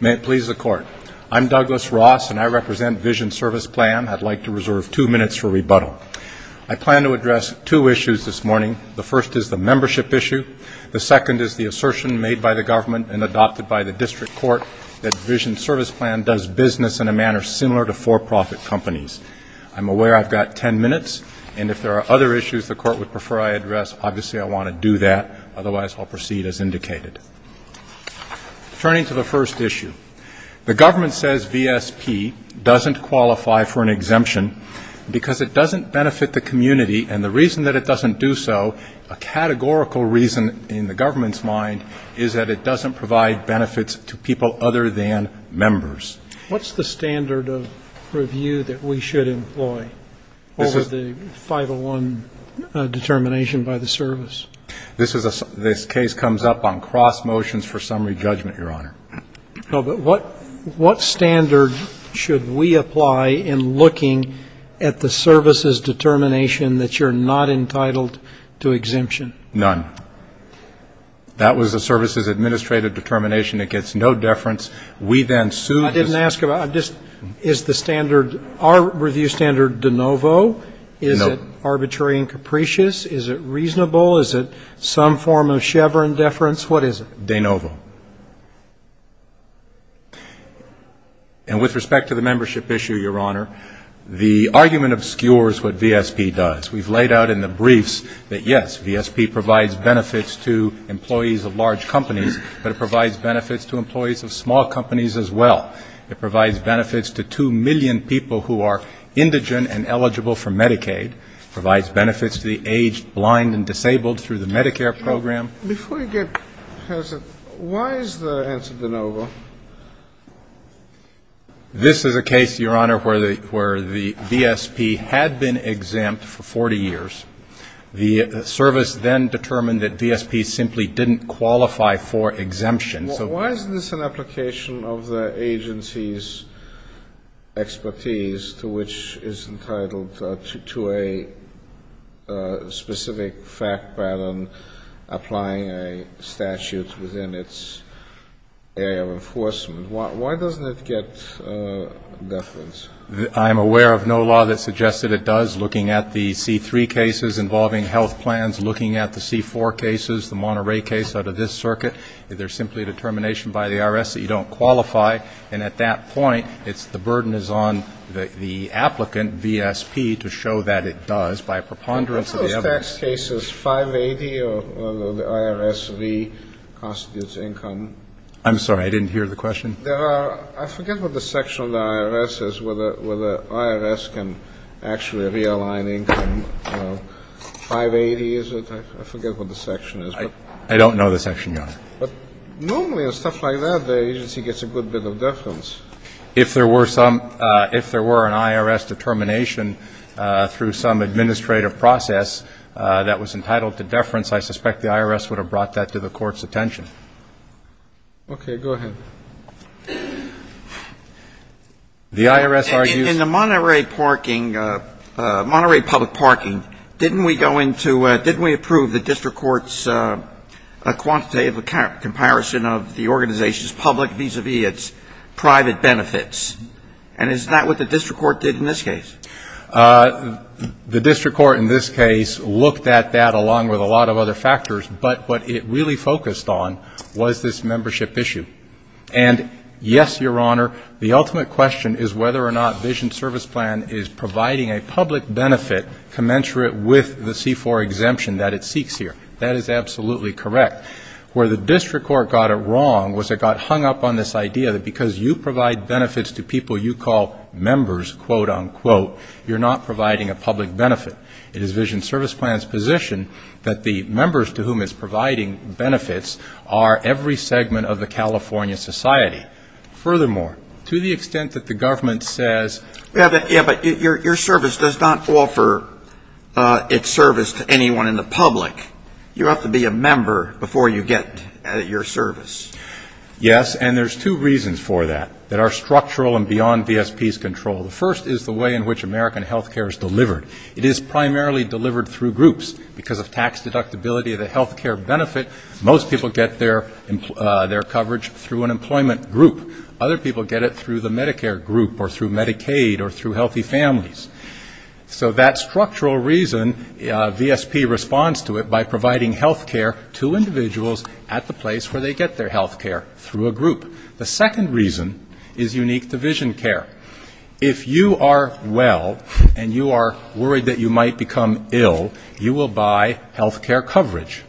May it please the Court. I'm Douglas Ross, and I represent Vision Service Plan. I'd like to reserve two minutes for rebuttal. I plan to address two issues this morning. The first is the membership issue. The second is the assertion made by the government and adopted by the District Court that Vision Service Plan does business in a manner similar to for-profit companies. I'm aware I've got ten minutes, and if there are other issues the proceed as indicated. Turning to the first issue, the government says VSP doesn't qualify for an exemption because it doesn't benefit the community, and the reason that it doesn't do so, a categorical reason in the government's mind, is that it doesn't provide benefits to people other than members. What's the standard of review that we should employ over the 501 c. determination by the service? This case comes up on cross motions for summary judgment, Your Honor. But what standard should we apply in looking at the service's determination that you're not entitled to exemption? None. That was the service's administrative determination. It gets no deference. We then sue the service. I didn't ask about it. Is the standard, our it reasonable? Is it some form of Chevron deference? What is it? De novo. And with respect to the membership issue, Your Honor, the argument obscures what VSP does. We've laid out in the briefs that, yes, VSP provides benefits to employees of large companies, but it provides benefits to employees of small companies as well. It provides benefits to 2 million people who are indigent and eligible for Medicaid. It provides benefits to the aged, blind and disabled through the Medicare program. Before you get past it, why is the answer de novo? This is a case, Your Honor, where the VSP had been exempt for 40 years. The service then determined that VSP simply didn't qualify for exemption. So why is this an application of the agency's expertise to which is entitled to a specific fact pattern applying a statute within its area of enforcement? Why doesn't it get deference? I'm aware of no law that suggests that it does, looking at the C-3 cases involving health plans, looking at the C-4 cases, the Monterey case out of this circuit. There's simply a determination by the IRS that you don't qualify. And at that point, it's the burden is on the applicant, VSP, to show that it does by preponderance of the evidence. Are those tax cases 580 or the IRS V constitutes income? I'm sorry. I didn't hear the question. I forget what the section of the IRS is where the IRS can actually realign income. 580 is it? I forget what the section is. I don't know the section, Your Honor. But normally on stuff like that, the agency gets a good bit of deference. If there were some – if there were an IRS determination through some administrative process that was entitled to deference, I suspect the IRS would have brought that to the Court's attention. Okay. Go ahead. The IRS argues – In the Monterey parking – Monterey public parking, didn't we go into – didn't we approve the district court's quantitative comparison of the organization's public vis-a-vis its private benefits? And is that what the district court did in this case? The district court in this case looked at that along with a lot of other factors. But what it really focused on was this membership issue. And yes, Your Honor, the ultimate question is whether or not Vision Service Plan is providing a public benefit commensurate with the C-4 exemption that it seeks here. That is absolutely correct. Where the district court got it wrong was it got hung up on this idea that because you provide benefits to people you call members, quote, unquote, you're not providing a public benefit. It is Vision Service Plan's position that the members to whom it's providing benefits are every segment of the California society. Furthermore, to the extent that the government says – to offer its service to anyone in the public, you have to be a member before you get your service. Yes. And there's two reasons for that that are structural and beyond VSP's control. The first is the way in which American health care is delivered. It is primarily delivered through groups. Because of tax deductibility of the health care benefit, most people get their coverage through an employment group. Other people get it through the Medicare group or through Medicaid or through Healthy Families. So that structural reason, VSP responds to it by providing health care to individuals at the place where they get their health care, through a group. The second reason is unique to Vision Care. If you are well and you are worried that you might become ill, you will buy health care coverage.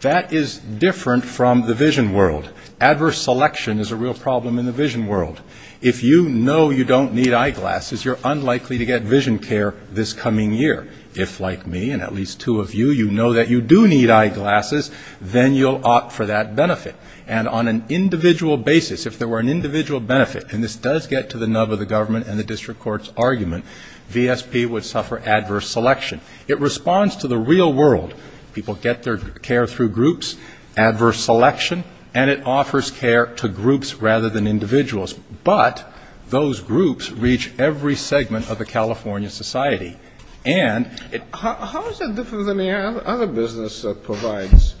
That is different from the Vision World. Adverse selection is a real problem in the Vision World. If you know you don't need eyeglasses, you're unlikely to get Vision Care this coming year. If, like me and at least two of you, you know that you do need eyeglasses, then you'll opt for that benefit. And on an individual basis, if there were an individual benefit, and this does get to the nub of the government and the district court's argument, VSP would suffer adverse selection. It responds to the real world. People get their care through groups, adverse selection, and it offers care to groups rather than individuals. But those groups reach every segment of the California society. And how is that different than the other business that provides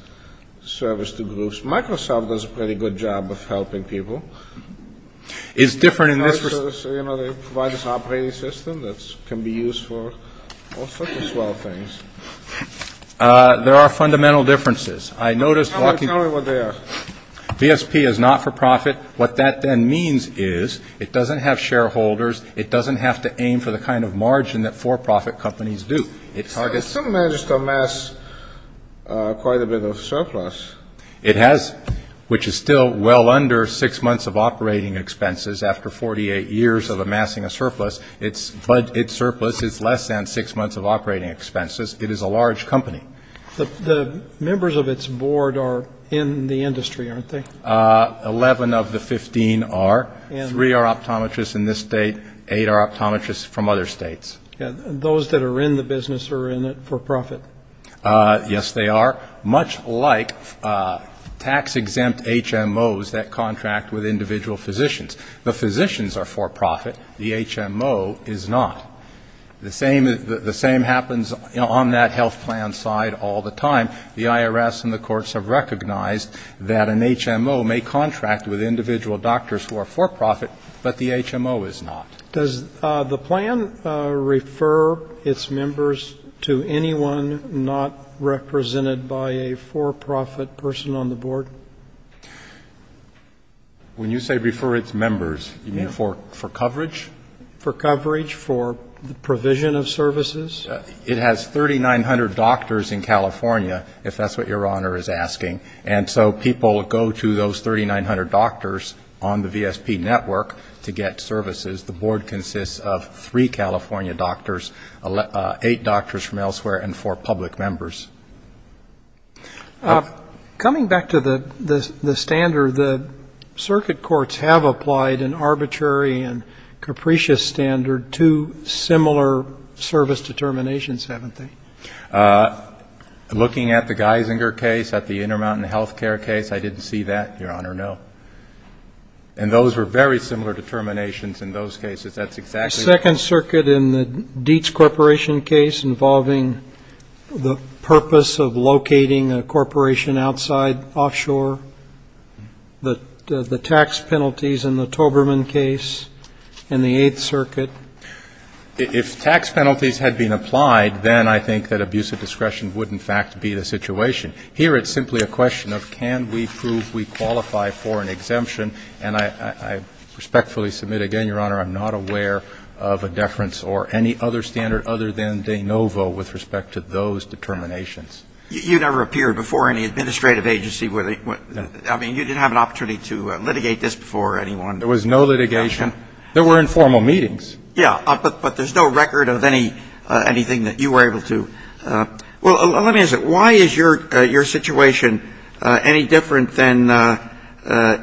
service to groups? Microsoft does a pretty good job of helping people. They provide this operating system that can be used for all sorts of swell things. There are fundamental differences. Tell me what they are. VSP is not for profit. What that then means is it doesn't have shareholders. It doesn't have to aim for the kind of margin that for-profit companies do. It still manages to amass quite a bit of surplus. It has, which is still well under six months of operating expenses after 48 years of amassing a surplus. But its surplus is less than six months of operating expenses. It is a large company. The members of its board are in the industry, aren't they? Eleven of the 15 are. Three are optometrists in this state. Eight are optometrists from other states. Those that are in the business are in it for profit. Yes, they are. Much like tax-exempt HMOs that contract with individual physicians. The physicians are for profit. The HMO is not. The same happens on that health plan side all the time. The IRS and the courts have recognized that an HMO may contract with individual doctors who are for profit, but the HMO is not. Does the plan refer its members to anyone not represented by a for-profit person on the board? When you say refer its members, you mean for coverage? For coverage, for the provision of services. It has 3,900 doctors in California, if that's what Your Honor is asking. And so people go to those 3,900 doctors on the VSP network to get services. The board consists of three California doctors, eight doctors from elsewhere, and four public members. Coming back to the standard, the circuit courts have applied an arbitrary and capricious standard to similar service determinations, haven't they? Looking at the Geisinger case, at the Intermountain Healthcare case, I didn't see that, Your Honor, no. And those were very similar determinations in those cases. That's exactly what we're looking for. The second circuit in the Dietz Corporation case involving the purpose of locating a corporation outside, offshore, the tax penalties in the Toberman case in the Eighth Circuit. If tax penalties had been applied, then I think that abuse of discretion would, in fact, be the situation. Here it's simply a question of can we prove we qualify for an exemption, and I respectfully submit again, Your Honor, I'm not aware of a deference or any other standard other than de novo with respect to those determinations. You never appeared before any administrative agency. I mean, you didn't have an opportunity to litigate this before anyone. There was no litigation. There were informal meetings. Yeah, but there's no record of anything that you were able to. Well, let me ask you, why is your situation any different than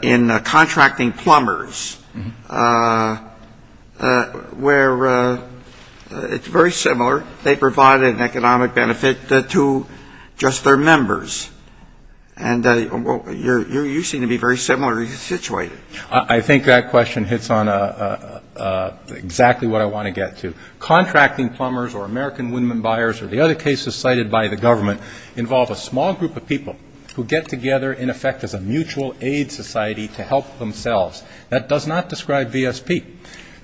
in contracting plumbers? Where it's very similar, they provide an economic benefit to just their members. And you seem to be very similar in your situation. I think that question hits on exactly what I want to get to. Contracting plumbers or American woodman buyers or the other cases cited by the government involve a small group of people who get together in effect as a mutual aid society to help themselves. That does not describe VSP.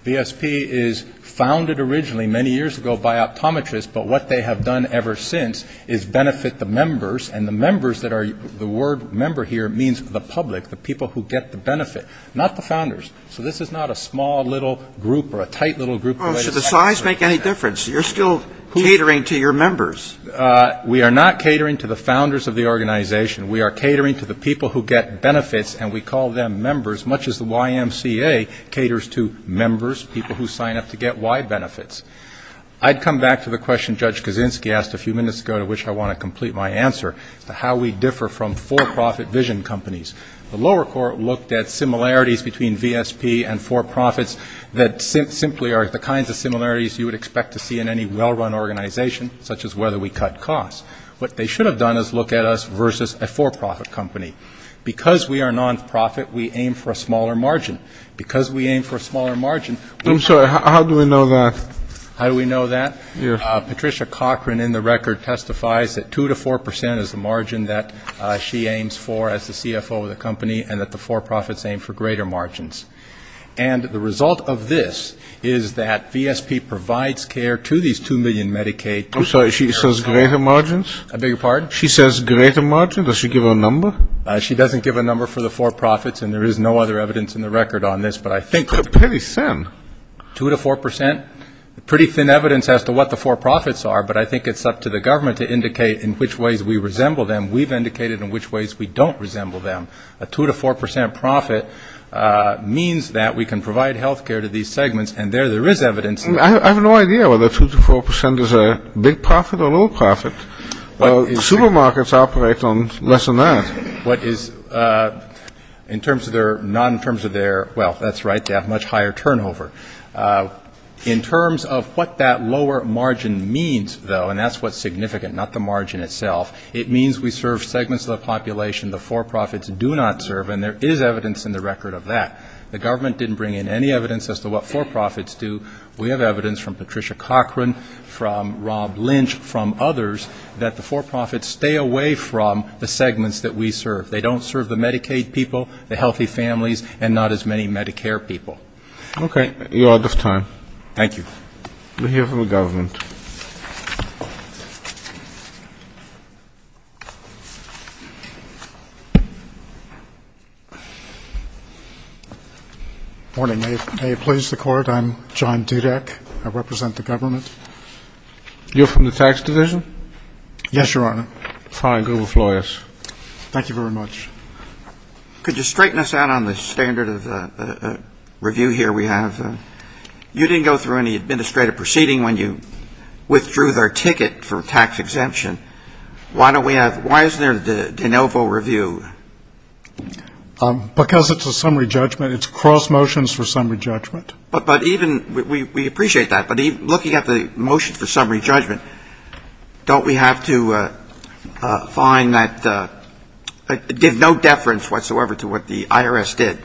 VSP is founded originally many years ago by optometrists, but what they have done ever since is benefit the members, and the members that are the word member here means the public, the people who get the benefit, not the founders. So this is not a small little group or a tight little group. Well, should the size make any difference? You're still catering to your members. We are not catering to the founders of the organization. We are catering to the people who get benefits, and we call them members, much as the YMCA caters to members, people who sign up to get Y benefits. I'd come back to the question Judge Kaczynski asked a few minutes ago, to which I want to complete my answer, to how we differ from for-profit vision companies. The lower court looked at similarities between VSP and for-profits that simply are the kinds of similarities you would expect to see in any well-run organization, such as whether we cut costs. What they should have done is look at us versus a for-profit company. Because we are non-profit, we aim for a smaller margin. Because we aim for a smaller margin, we're not going to cut costs. And the result of this is that VSP provides care to these 2 million Medicaid people. She says greater margins? Does she give a number? She doesn't give a number for the for-profits, and there is no other evidence in the record on this. Pretty thin. But I think it's up to the government to indicate in which ways we resemble them. A 2 to 4 percent profit means that we can provide health care to these segments, and there, there is evidence. I have no idea whether 2 to 4 percent is a big profit or a little profit. Supermarkets operate on less than that. In terms of their, well, that's right, they have much higher turnover. In terms of what that lower margin means, though, and that's what's significant, not the margin itself, it means we serve segments of the population the for-profits do not serve, and there is evidence in the record of that. The government didn't bring in any evidence as to what for-profits do. We have evidence from Patricia Cochran, from Rob Lynch, from others, that the for-profits stay away from the segments that we serve. They don't serve the Medicaid people, the healthy families, and not as many Medicare people. Okay. You're out of time. Thank you. We'll hear from the government. Morning. May it please the Court? I'm John Dudek. I represent the government. You're from the tax division? Yes, Your Honor. Thank you very much. Could you straighten us out on the standard of review here we have? You didn't go through any administrative proceeding when you withdrew their ticket for tax exemption. Why don't we have, why isn't there de novo review? Because it's a summary judgment. It's cross motions for summary judgment. But even, we appreciate that, but even looking at the motions for summary judgment, don't we have to find that there's no deference whatsoever to what the IRS did?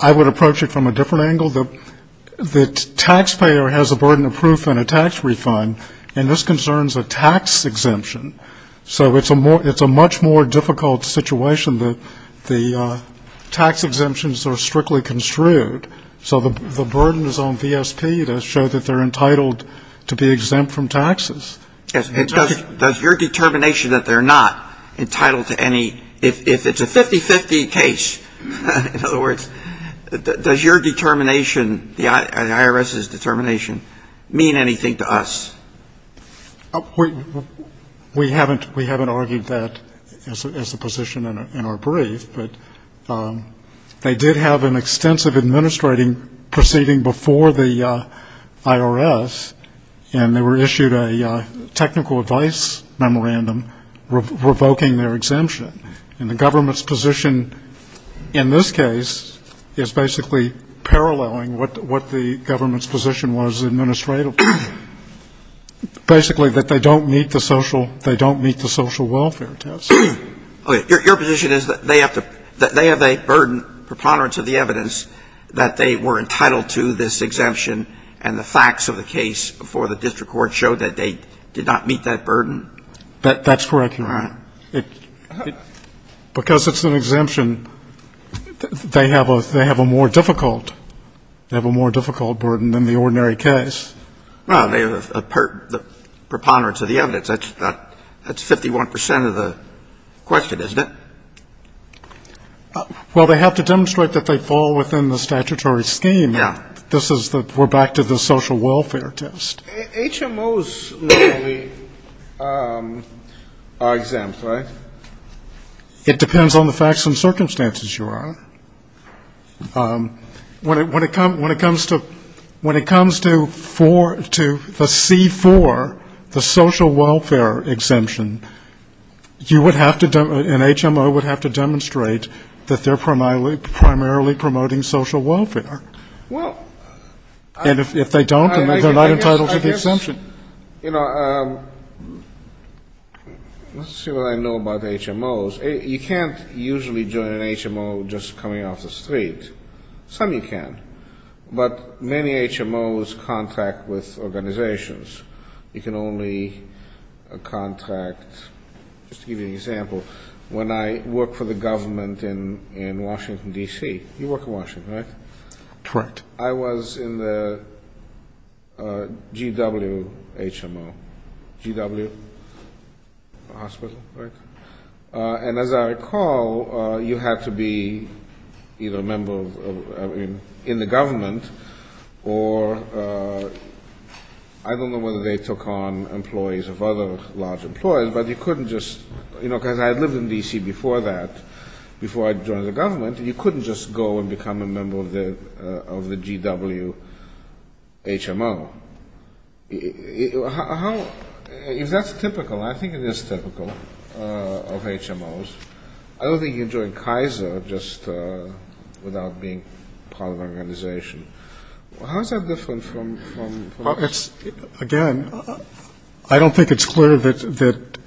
I would approach it from a different angle. The taxpayer has a burden of proof in a tax refund, and this concerns a tax exemption. So it's a much more difficult situation that the tax exemptions are strictly construed, so the burden is on VSP to show that they're entitled to be exempt from taxes. Does your determination that they're not entitled to any, if it's a 50-50 case, in other words, does your determination, the IRS's determination, mean anything to us? We haven't argued that as a position in our brief, but they did have an extensive administrating proceeding before the IRS, and they were issued a technical advice memorandum revoking their exemption. And the government's position in this case is basically paralleling what the government's position was administratively, basically that they don't meet the social welfare test. Okay. Your position is that they have a burden preponderance of the evidence that they were entitled to this exemption, and the facts of the case before the district court showed that they did not meet that burden? That's correct, Your Honor. Because it's an exemption, they have a more difficult burden than the ordinary case. Well, they have a preponderance of the evidence. That's 51 percent of the question, isn't it? Well, they have to demonstrate that they fall within the statutory scheme. Yeah. This is the we're back to the social welfare test. HMOs normally are exempt, right? It depends on the facts and circumstances, Your Honor. When it comes to the C-4, the social welfare exemption, you would have to, an HMO would have to demonstrate that they're primarily promoting social welfare. Well, I guess, you know, let's see what I know about HMOs. You can't usually join an HMO just coming off the street. Some you can, but many HMOs contract with organizations. You can only contract, just to give you an example, when I worked for the government in Washington, D.C. You work in Washington, right? Correct. I was in the GW HMO, GW Hospital, right? And as I recall, you had to be either a member in the government, or I don't know whether they took on employees of other large employees, but you couldn't just, you know, because I had lived in D.C. before that, before I joined the government, you couldn't just go and become a member of the GW HMO. How, if that's typical, I think it is typical of HMOs, I don't think you join Kaiser just without being part of an organization. How is that different from... Again, I don't think it's clear that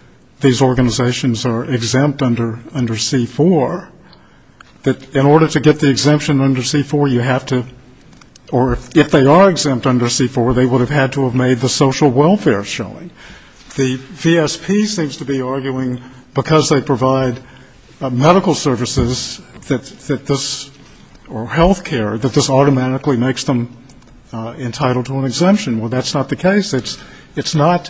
these organizations are exempt under C-4. That in order to get the exemption under C-4, you have to, or if they are exempt under C-4, they would have had to have made the social welfare showing. The VSP seems to be arguing, because they provide medical services that this, or health care, that this automatically makes them entitled to an exemption. Well, that's not the case. It's not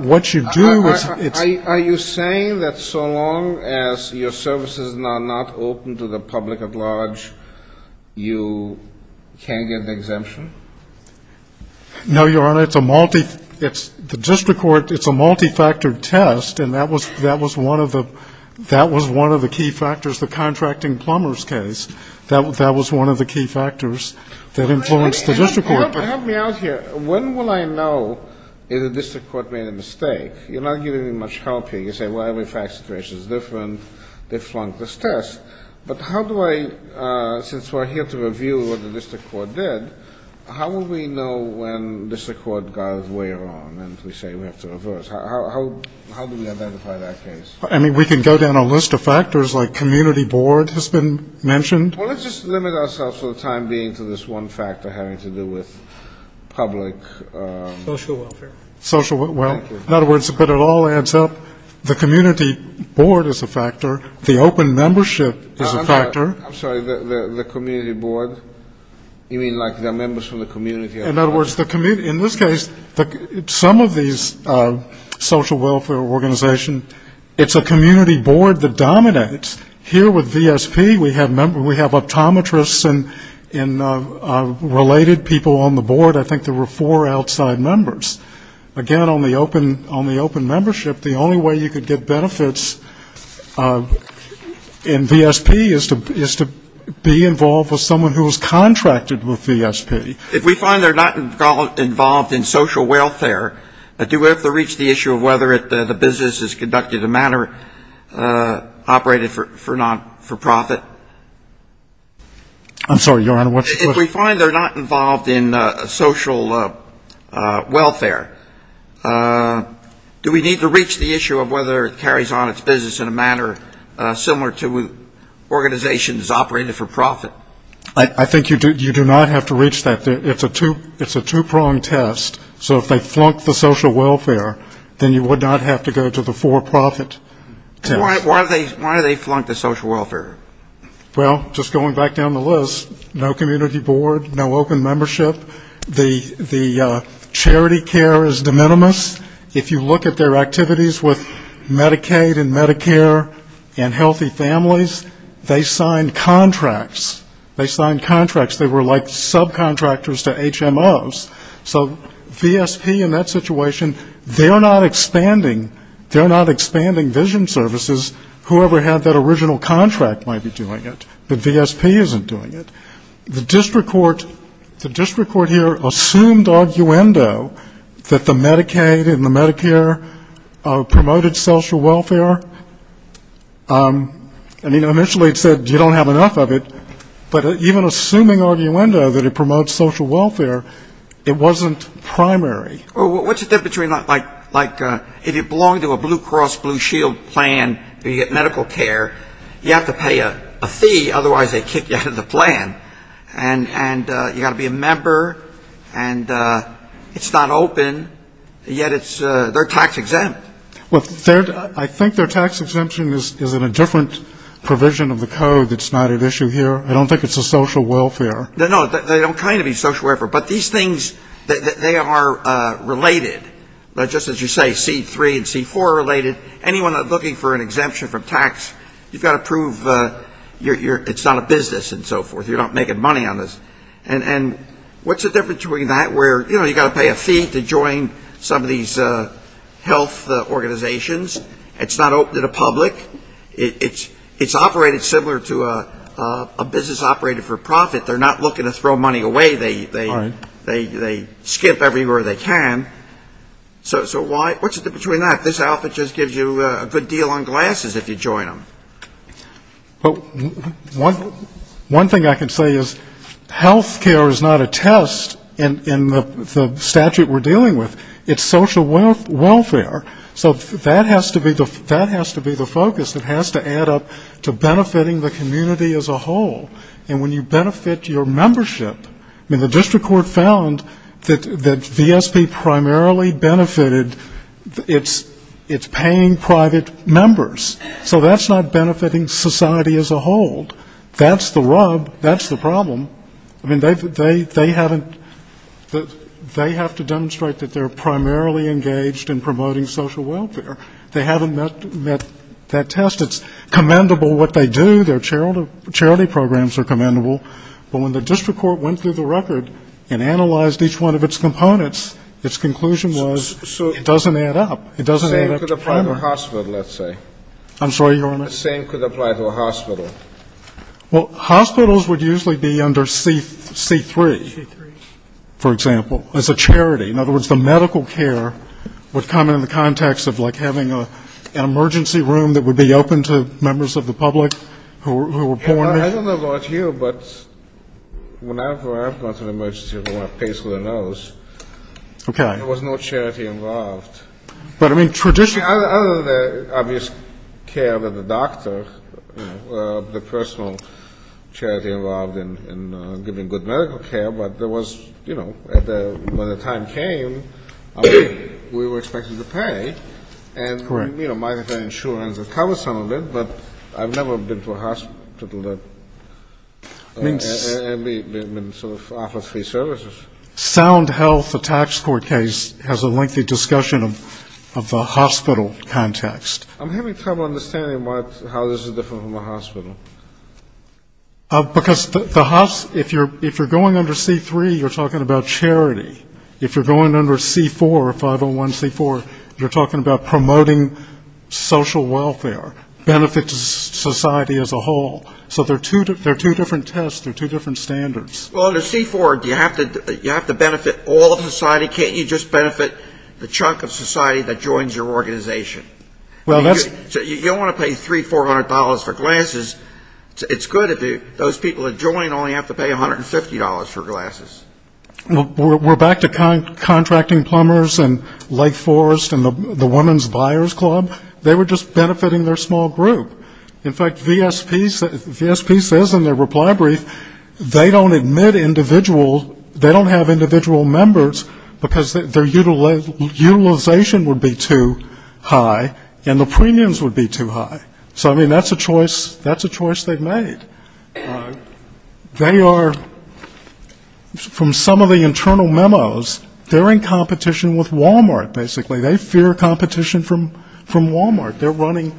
what you do. Are you saying that so long as your services are not open to the public at large, you can't get the exemption? No, Your Honor. It's a multi-factor test, and that was one of the key factors, the contracting plumbers case. That was one of the key factors that influenced the district court. Help me out here. When will I know if the district court made a mistake? You're not giving me much help here. You say, well, every fact situation is different, they flunked this test. But how do I, since we're here to review what the district court did, how will we know when district court goes way wrong and we say we have to reverse? How do we identify that case? I mean, we can go down a list of factors, like community board has been mentioned. Well, let's just limit ourselves for the time being to this one factor having to do with public... Social welfare. In other words, but it all adds up, the community board is a factor, the open membership is a factor. I'm sorry, the community board? You mean like the members from the community? In other words, in this case, some of these social welfare organizations, it's a community board that dominates. Here with VSP, we have optometrists and related people on the board. I think there were four outside members. Again, on the open membership, the only way you could get benefits in VSP is to be involved with someone who is contracted with VSP. If we find they're not involved in social welfare, do we have to reach the issue of whether the business is conducted in a manner operated for non-for-profit? I'm sorry, Your Honor, what's your question? If we find they're not involved in social welfare, do we need to reach the issue of whether it carries on its business in a manner similar to organizations operated for profit? I think you do not have to reach that. It's a two-pronged test, so if they flunk the social welfare, then you would not have to go to the for-profit test. Why do they flunk the social welfare? Well, just going back down the list, no community board, no open membership, the charity care is de minimis. If you look at their activities with Medicaid and Medicare and healthy families, they signed contracts. They signed contracts. They were like subcontractors to HMOs. So VSP in that situation, they're not expanding vision services. Whoever had that original contract might be doing it, but VSP isn't doing it. The district court here assumed arguendo that the Medicaid and the Medicare promoted social welfare. I mean, initially it said you don't have enough of it, but even assuming arguendo that it promotes social welfare, it wasn't doing it. Well, what's the difference between like if you belong to a Blue Cross Blue Shield plan and you get medical care, you have to pay a fee, otherwise they kick you out of the plan, and you've got to be a member, and it's not open, yet they're tax exempt. Well, I think their tax exemption is in a different provision of the code that's not at issue here. I don't think it's a social welfare. No, they don't kind of be social welfare, but these things, they are related. Just as you say, C3 and C4 are related. Anyone looking for an exemption from tax, you've got to prove it's not a business and so forth. You're not making money on this. And what's the difference between that where, you know, you've got to pay a fee to join some of these health organizations. It's not open to the public. It's operated similar to a business operated for profit. They're not looking to throw money away. They skip everywhere they can. So what's the difference between that? This outfit just gives you a good deal on glasses if you join them. Well, one thing I can say is health care is not a test in the statute we're dealing with. It's social welfare. So that has to be the focus that has to add up to benefiting the community as a whole. And when you benefit your membership, I mean, the district court found that VSP primarily benefited its paying private members. So that's not benefiting society as a whole. That's the rub, that's the problem. I mean, they haven't, they have to demonstrate that they're primarily engaged in promoting social welfare. They haven't met that test. It's commendable what they do. Their charity programs are commendable. But when the district court went through the record and analyzed each one of its components, its conclusion was it doesn't add up. It doesn't add up to promote. I'm sorry, Your Honor. The same could apply to a hospital. Well, hospitals would usually be under C3, for example, as a charity. In other words, the medical care would come in the context of, like, having an emergency room that would be open to members of the public who were born there. I don't know about you, but whenever I've gone to an emergency room, I pay through the nose. Okay. There was no charity involved. I mean, other than the obvious care of the doctor, the personal charity involved in giving good medical care, but there was, you know, when the time came, we were expected to pay. And, you know, my insurance would cover some of it, but I've never been to a hospital that sort of offers free services. Sound Health, a tax court case, has a lengthy discussion of the hospital context. I'm having trouble understanding how this is different from a hospital. Because the hospital, if you're going under C3, you're talking about charity. If you're going under C4, 501C4, you're talking about promoting social welfare, benefit to society as a whole. So they're two different tests, they're two different standards. Well, under C4, you have to benefit all of society. Can't you just benefit the chunk of society that joins your organization? You don't want to pay $300, $400 for glasses. It's good if those people that join only have to pay $150 for glasses. We're back to contracting plumbers and Lake Forest and the Women's Buyers Club. They were just benefiting their small group. In fact, VSP says in their reply brief, they don't admit individual, they don't have individual members, because their utilization would be too high and the premiums would be too high. So, I mean, that's a choice they've made. They are, from some of the internal memos, they're in competition with Walmart, basically. They fear competition from Walmart. They're running,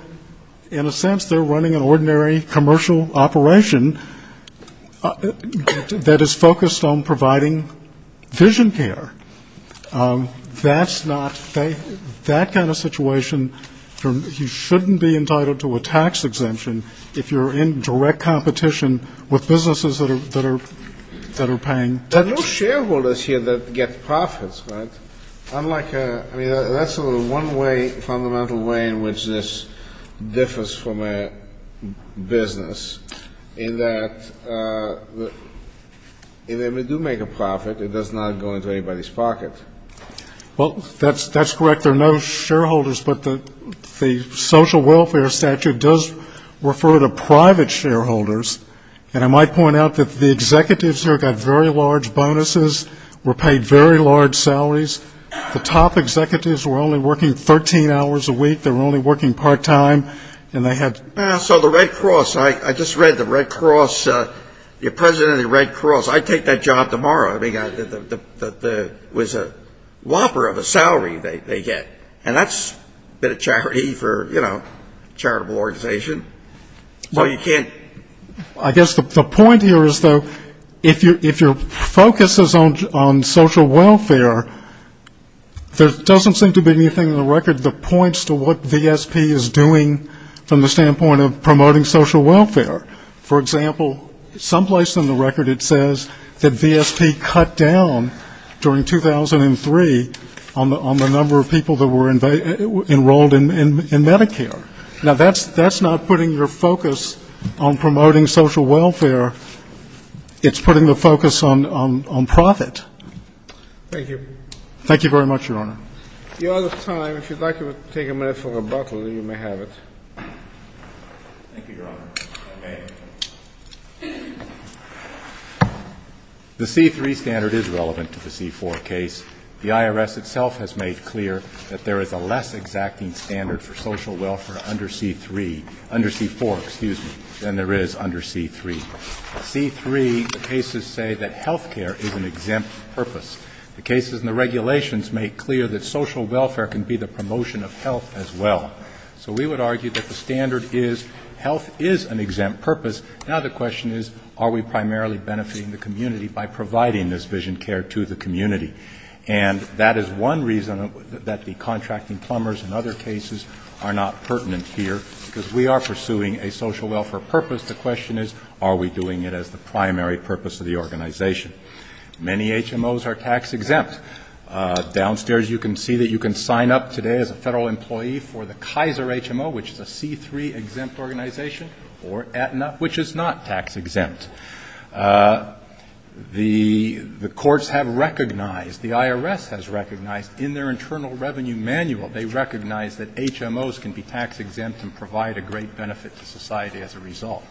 in a sense, they're running an ordinary commercial operation that is focused on providing vision care. That's not, that kind of situation, you shouldn't be entitled to a tax exemption if you're in direct contact with Walmart. They're in competition with businesses that are paying. There are no shareholders here that get profits, right? I mean, that's the one fundamental way in which this differs from a business, in that if they do make a profit, it does not go into anybody's pocket. Well, that's correct. There are no shareholders, but the social welfare statute does refer to private shareholders, and I might point out that the executives here got very large bonuses, were paid very large salaries. The top executives were only working 13 hours a week. They were only working part-time, and they had. So the Red Cross, I just read the Red Cross, the president of the Red Cross, I'd take that job tomorrow. And that's a bit of charity for, you know, charitable organization. So you can't. I guess the point here is, though, if your focus is on social welfare, there doesn't seem to be anything in the record that points to what VSP is doing from the standpoint of promoting social welfare. For example, someplace in the record it says that VSP cut down during 2003 on the number of people who were enrolled in Medicare. Now, that's not putting your focus on promoting social welfare. It's putting the focus on profit. Thank you. Thank you very much, Your Honor. The other time, if you'd like to take a minute for rebuttal, you may have it. Thank you, Your Honor. The C-3 standard is relevant to the C-4 case. The IRS itself has made clear that there is a less exacting standard for social welfare under C-3, under C-4, excuse me, than there is under C-3. Under C-3, the cases say that health care is an exempt purpose. The cases and the regulations make clear that social welfare can be the promotion of health as well. So we would argue that the standard is health is an exempt purpose. Now the question is, are we primarily benefiting the community by providing this vision care to the community? And that is one reason that the contracting plumbers and other cases are not pertinent here, because we are pursuing a social welfare purpose. The question is, are we doing it as the primary purpose of the organization? Many HMOs are tax-exempt. Downstairs you can see that you can sign up today as a federal employee for the Kaiser HMO, which is a C-3 exempt organization, or Aetna, which is not tax-exempt. The courts have recognized, the IRS has recognized in their internal revenue manual, they recognize that HMOs can be tax-exempt and provide a great benefit to society as a result.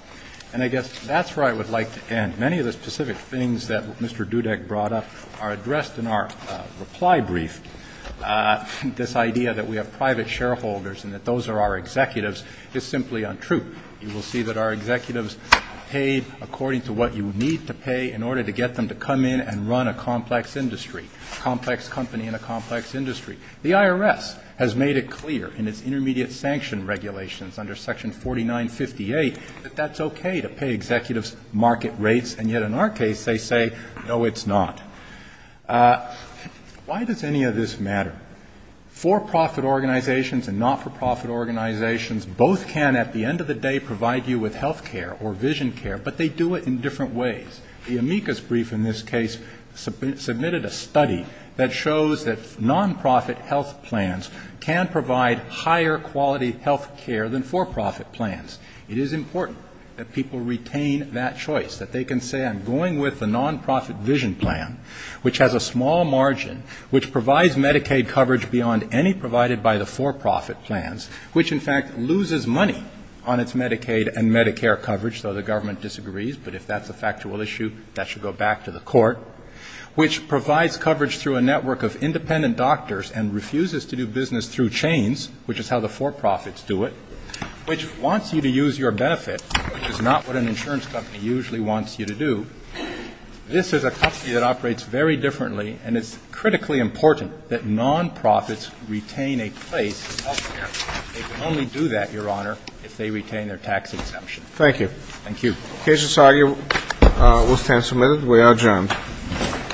And I guess that's where I would like to end. Many of the specific things that Mr. Dudek brought up are addressed in our reply brief. This idea that we have private shareholders and that those are our executives is simply untrue. You will see that our executives are paid according to what you need to pay in order to get them to come in and run a complex industry, a complex company in a complex industry. The IRS has made it clear in its intermediate sanction regulations under Section 4958 that that's okay to pay executives market rates, and yet in our case they say, no, it's not. Why does any of this matter? For-profit organizations and not-for-profit organizations both can at the end of the day provide you with health care or vision care, but they do it in different ways. The amicus brief in this case submitted a study that shows that non-profit health plans can provide higher quality health care than for-profit plans. It is important that people retain that choice, that they can say, I'm going with the non-profit vision plan, which has a small margin, which provides Medicaid coverage beyond any provided by the for-profit plans, which in fact loses money on its Medicaid and Medicare coverage, though the government disagrees, but if that's a factual issue, that should go back to the court, which provides coverage through a network of independent doctors and refuses to do business through chains, which is how the for-profits do it, which wants you to use your benefit, which is not what an insurance company usually wants you to do. This is a company that operates very differently, and it's critically important that non-profits retain a place in health care. They can only do that, Your Honor, if they retain their tax exemption. Thank you.